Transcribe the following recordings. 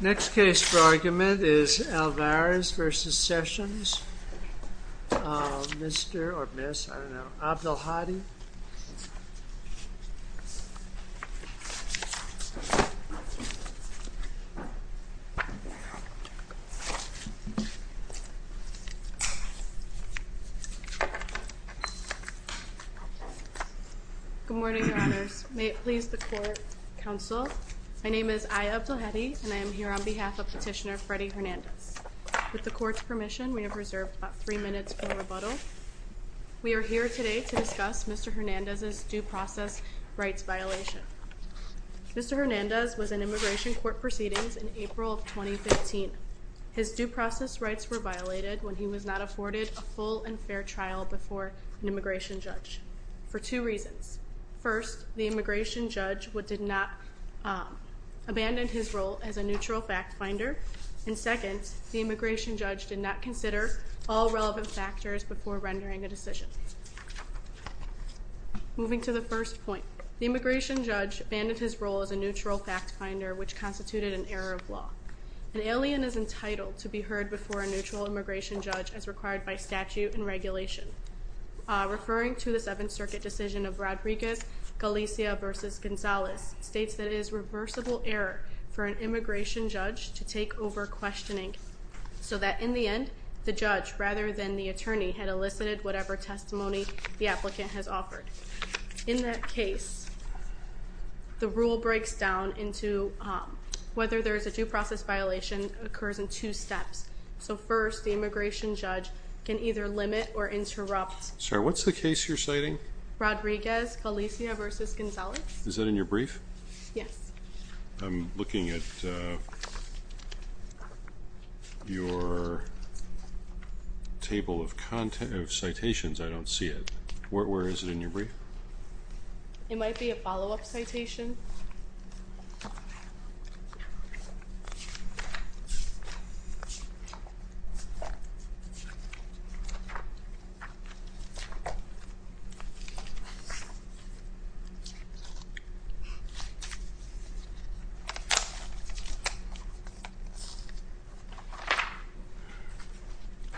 Next case for argument is Alvarez v. Sessions, Mr. or Miss, I don't know, Abdelhadi. Good morning, Your Honors. May it please the Court, Counsel. My name is Aya Abdelhadi and I am here on behalf of Petitioner Freddy Hernandez. With the Court's permission, we have reserved about three minutes for rebuttal. We are here today to discuss Mr. Hernandez's due process rights violation. Mr. Hernandez was in immigration court proceedings in April of 2015. His due process rights were violated when he was not afforded a full and fair trial before an immigration judge for two reasons. First, the immigration judge did not abandon his role as a neutral fact finder. And second, the immigration judge did not consider all relevant factors before rendering a decision. Moving to the first point, the immigration judge abandoned his role as a neutral fact finder, which constituted an error of law. An alien is entitled to be heard before a neutral immigration judge as required by statute and regulation. Referring to the Seventh Circuit decision of Rodriguez-Galicia v. Gonzalez, states that it is reversible error for an immigration judge to take over questioning, so that in the end, the judge, rather than the attorney, had elicited whatever testimony the applicant has offered. In that case, the rule breaks down into whether there is a due process violation occurs in two steps. So first, the immigration judge can either limit or interrupt. Sir, what's the case you're citing? Rodriguez-Galicia v. Gonzalez. Is that in your brief? Yes. I'm looking at your table of citations. I don't see it. Where is it in your brief? It might be a follow-up citation.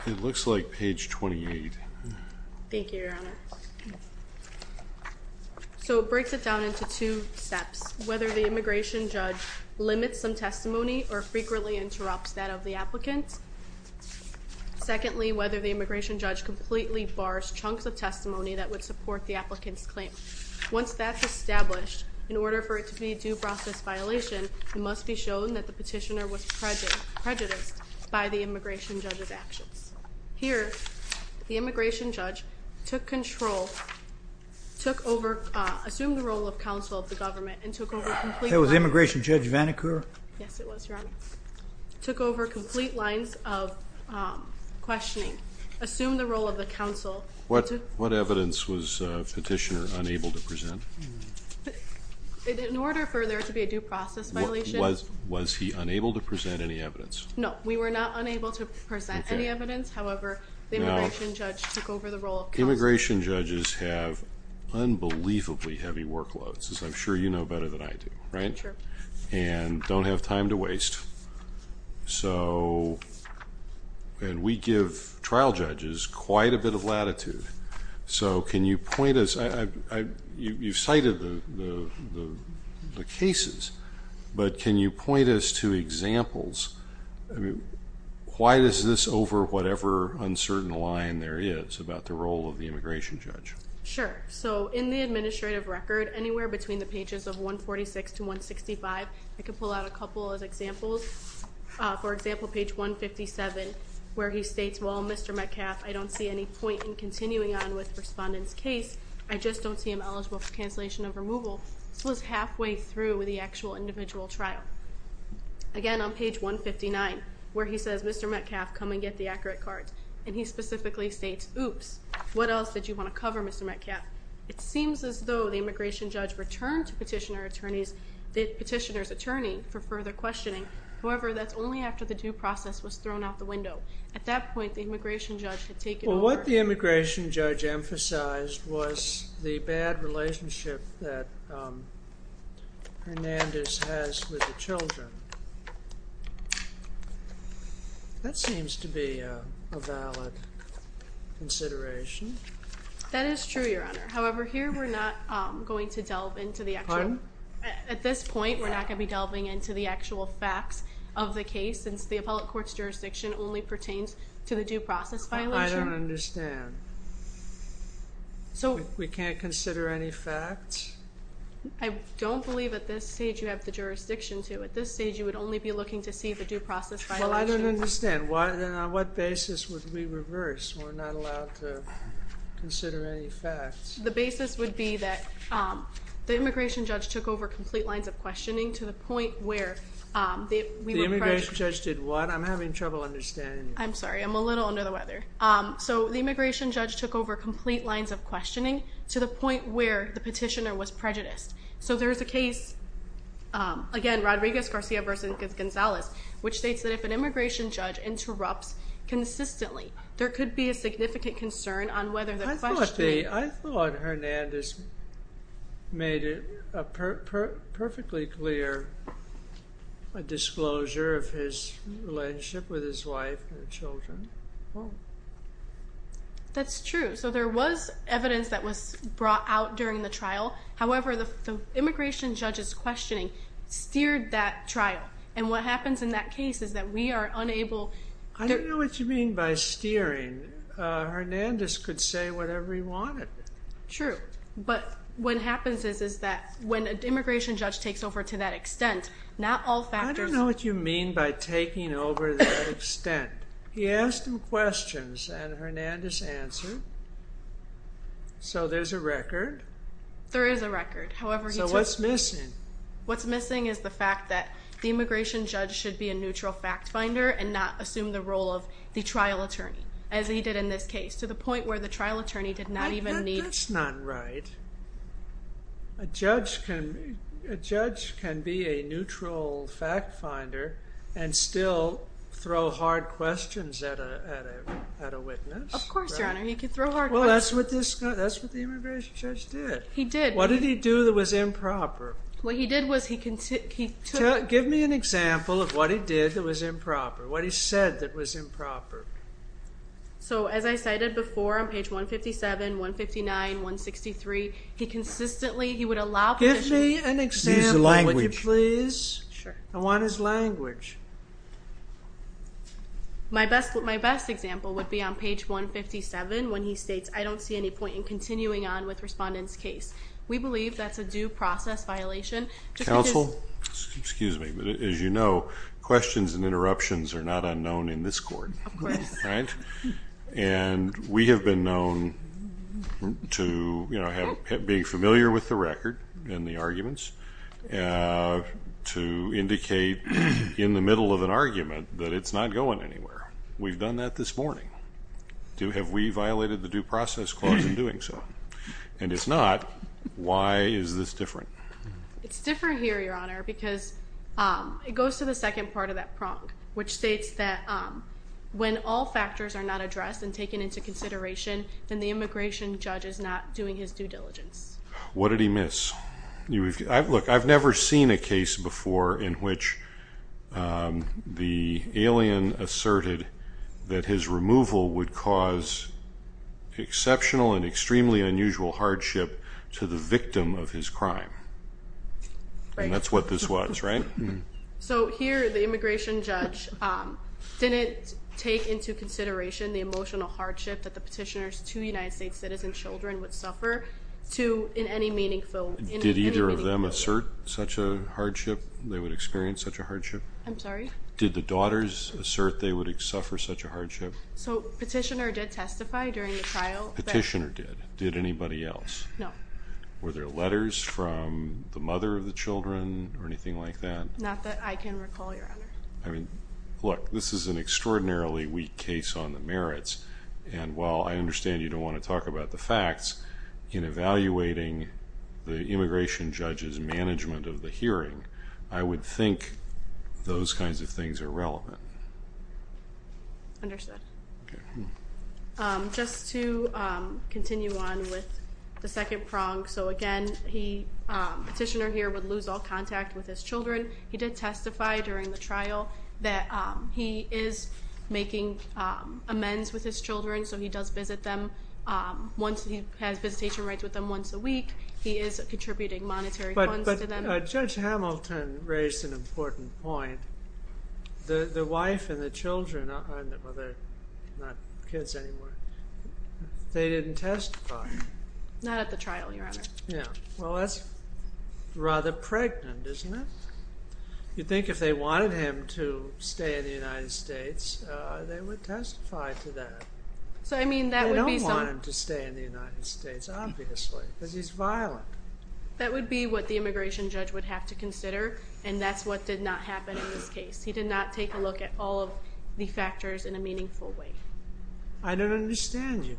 It looks like page 28. Thank you, Your Honor. So it breaks it down into two steps. First, whether the immigration judge limits some testimony or frequently interrupts that of the applicant. Secondly, whether the immigration judge completely bars chunks of testimony that would support the applicant's claim. Once that's established, in order for it to be a due process violation, it must be shown that the petitioner was prejudiced by the immigration judge's actions. Here, the immigration judge assumed the role of counsel of the government and took over complete lines of questioning. What evidence was the petitioner unable to present? In order for there to be a due process violation. No, we were not unable to present any evidence. However, the immigration judge took over the role of counsel. Immigration judges have unbelievably heavy workloads, as I'm sure you know better than I do, right? Sure. And don't have time to waste. And we give trial judges quite a bit of latitude. So can you point us, you've cited the cases, but can you point us to examples? Why is this over whatever uncertain line there is about the role of the immigration judge? Sure. So in the administrative record, anywhere between the pages of 146 to 165, I can pull out a couple of examples. For example, page 157, where he states, well, Mr. Metcalf, I don't see any point in continuing on with respondent's case. I just don't see him eligible for cancellation of removal. This was halfway through the actual individual trial. Again, on page 159, where he says, Mr. Metcalf, come and get the accurate cards. And he specifically states, oops, what else did you want to cover, Mr. Metcalf? It seems as though the immigration judge returned to petitioner's attorney for further questioning. However, that's only after the due process was thrown out the window. At that point, the immigration judge had taken over. Well, what the immigration judge emphasized was the bad relationship that Hernandez has with the children. That seems to be a valid consideration. That is true, Your Honor. However, here we're not going to delve into the actual facts of the case, since the appellate court's jurisdiction only pertains to the due process violation. I don't understand. We can't consider any facts? I don't believe at this stage you have the jurisdiction to. At this stage, you would only be looking to see the due process violation. Well, I don't understand. Then on what basis would we reverse? We're not allowed to consider any facts. The basis would be that the immigration judge took over complete lines of questioning to the point where we were prejudiced. The immigration judge did what? I'm having trouble understanding you. I'm sorry. I'm a little under the weather. So the immigration judge took over complete lines of questioning to the point where the petitioner was prejudiced. So there's a case, again, Rodriguez-Garcia v. Gonzalez, which states that if an immigration judge interrupts consistently, there could be a significant concern on whether the questioner... I thought Hernandez made a perfectly clear disclosure of his relationship with his wife and children. That's true. So there was evidence that was brought out during the trial. However, the immigration judge's questioning steered that trial. And what happens in that case is that we are unable... I don't know what you mean by steering. Hernandez could say whatever he wanted. True. But what happens is that when an immigration judge takes over to that extent, not all factors... I don't know what you mean by taking over to that extent. He asked him questions, and Hernandez answered. So there's a record. There is a record. So what's missing? What's missing is the fact that the immigration judge should be a neutral fact finder and not assume the role of the trial attorney, as he did in this case, to the point where the trial attorney did not even need... That's not right. A judge can be a neutral fact finder and still throw hard questions at a witness. Of course, Your Honor. Well, that's what the immigration judge did. He did. What did he do that was improper? What he did was he... Give me an example of what he did that was improper, what he said that was improper. So as I cited before on page 157, 159, 163, he consistently... Give me an example, would you please? I want his language. My best example would be on page 157 when he states, I don't see any point in continuing on with respondent's case. We believe that's a due process violation. Counsel, excuse me, but as you know, questions and interruptions are not unknown in this court. Of course. Right? And we have been known to be familiar with the record and the arguments to indicate in the middle of an argument that it's not going anywhere. We've done that this morning. Have we violated the due process clause in doing so? And it's not. Why is this different? It's different here, Your Honor, because it goes to the second part of that prong, which states that when all factors are not addressed and taken into consideration, then the immigration judge is not doing his due diligence. What did he miss? Look, I've never seen a case before in which the alien asserted that his removal would cause exceptional and extremely unusual hardship to the victim of his crime. And that's what this was, right? So here the immigration judge didn't take into consideration the emotional hardship that the petitioner's two United States citizen children would suffer in any meaningful way. Did either of them assert such a hardship, they would experience such a hardship? I'm sorry? Did the daughters assert they would suffer such a hardship? So petitioner did testify during the trial. Petitioner did. Did anybody else? No. Were there letters from the mother of the children or anything like that? Not that I can recall, Your Honor. Look, this is an extraordinarily weak case on the merits, and while I understand you don't want to talk about the facts, in evaluating the immigration judge's management of the hearing, I would think those kinds of things are relevant. Understood. Just to continue on with the second prong, so again the petitioner here would lose all contact with his children. He did testify during the trial that he is making amends with his children, so he does visit them. He has visitation rights with them once a week. He is contributing monetary funds to them. But Judge Hamilton raised an important point. The wife and the children are not kids anymore. They didn't testify. Not at the trial, Your Honor. Well, that's rather pregnant, isn't it? You'd think if they wanted him to stay in the United States, they would testify to that. They don't want him to stay in the United States, obviously, because he's violent. That would be what the immigration judge would have to consider, and that's what did not happen in this case. He did not take a look at all of the factors in a meaningful way. I don't understand you.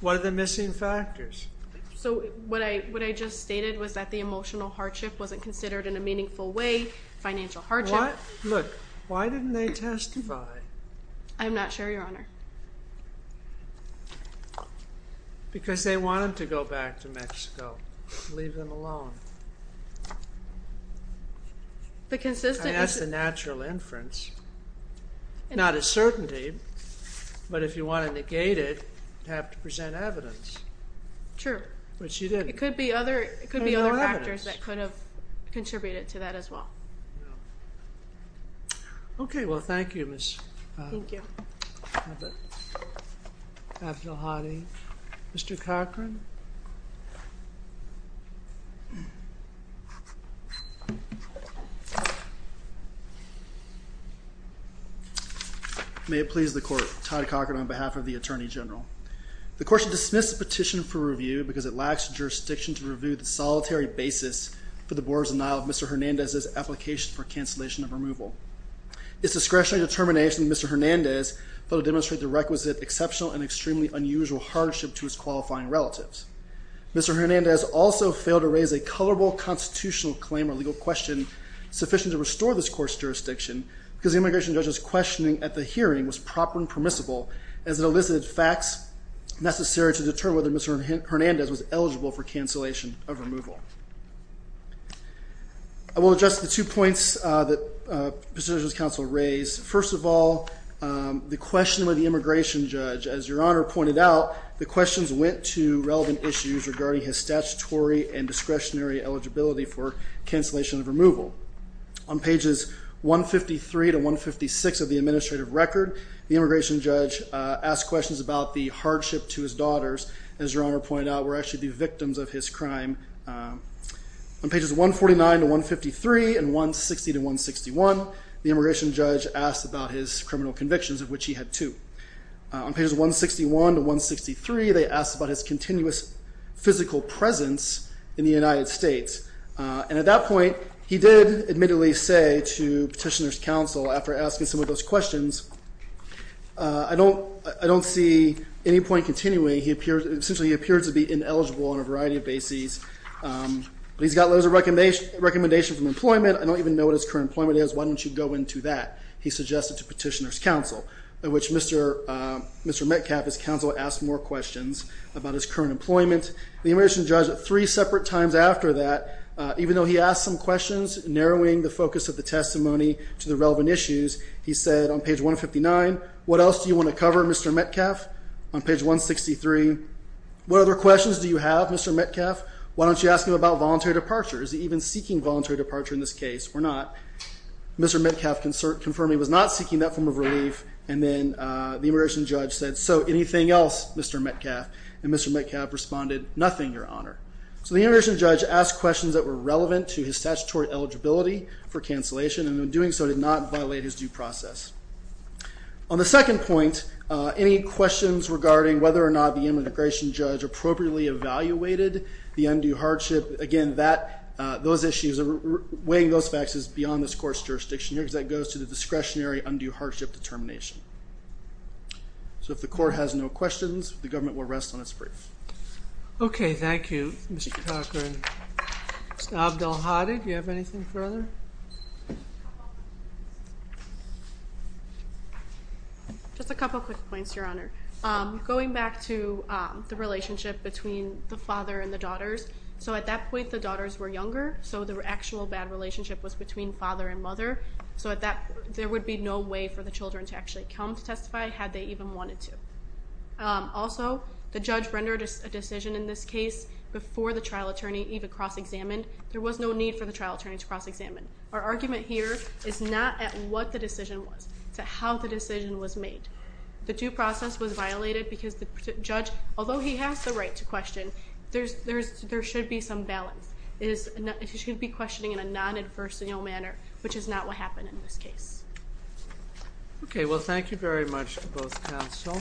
What are the missing factors? So what I just stated was that the emotional hardship wasn't considered in a meaningful way, financial hardship. Look, why didn't they testify? I'm not sure, Your Honor. Because they want him to go back to Mexico and leave them alone. I mean, that's the natural inference. Not a certainty, but if you want to negate it, you have to present evidence. But she didn't. There's no evidence. It could be other factors that could have contributed to that as well. No. Okay, well, thank you. Thank you. I have it. I have the heartache. Mr. Cochran. May it please the court. Todd Cochran on behalf of the Attorney General. The court should dismiss the petition for review because it lacks jurisdiction to review the solitary basis for the board's denial of Mr. Hernandez's application for cancellation of removal. It's discretionary determination that Mr. Hernandez thought to demonstrate the requisite exceptional and extremely unusual hardship to his qualifying relatives. Mr. Hernandez also failed to raise a colorable constitutional claim or legal question sufficient to restore this court's jurisdiction because the immigration judge's questioning at the hearing was proper and permissible as it elicited facts necessary to determine whether Mr. Hernandez was eligible for cancellation of removal. I will address the two points that positions counsel raised. First of all, the question of the immigration judge. As Your Honor pointed out, the questions went to relevant issues regarding his statutory and discretionary eligibility for cancellation of removal. On pages 153 to 156 of the administrative record, the immigration judge asked questions about the hardship to his daughters, as Your Honor pointed out, were actually the victims of his crime. On pages 149 to 153 and 160 to 161, the immigration judge asked about his criminal convictions, of which he had two. On pages 161 to 163, they asked about his continuous physical presence in the United States. And at that point, he did admittedly say to petitioners' counsel, after asking some of those questions, I don't see any point in continuing. Essentially, he appeared to be ineligible on a variety of bases. He's got letters of recommendation from employment. I don't even know what his current employment is. Why don't you go into that? He suggested to petitioners' counsel, of which Mr. Metcalf, his counsel, asked more questions about his current employment. The immigration judge, three separate times after that, even though he asked some questions, narrowing the focus of the testimony to the relevant issues, he said on page 159, what else do you want to cover, Mr. Metcalf? On page 163, what other questions do you have, Mr. Metcalf? Why don't you ask him about voluntary departure? Is he even seeking voluntary departure in this case, or not? Mr. Metcalf confirmed he was not seeking that form of relief, and then the immigration judge said, so anything else, Mr. Metcalf? And Mr. Metcalf responded, nothing, your honor. So the immigration judge asked questions that were relevant to his statutory eligibility for cancellation, and in doing so did not violate his due process. On the second point, any questions regarding whether or not the immigration judge appropriately evaluated the undue hardship? Again, those issues, weighing those facts, is beyond this court's jurisdiction here, because that goes to the discretionary undue hardship determination. So if the court has no questions, the government will rest on its brief. Okay, thank you, Mr. Cochran. Mr. Abdelhadi, do you have anything further? Just a couple quick points, your honor. Going back to the relationship between the father and the daughters, so at that point the daughters were younger, so the actual bad relationship was between father and mother, so there would be no way for the children to actually come to testify, had they even wanted to. Also, the judge rendered a decision in this case before the trial attorney even cross-examined. There was no need for the trial attorney to cross-examine. Our argument here is not at what the decision was, it's at how the decision was made. The due process was violated because the judge, although he has the right to question, there should be some balance. He should be questioning in a non-adversarial manner, which is not what happened in this case. Okay, well thank you very much to both counsel.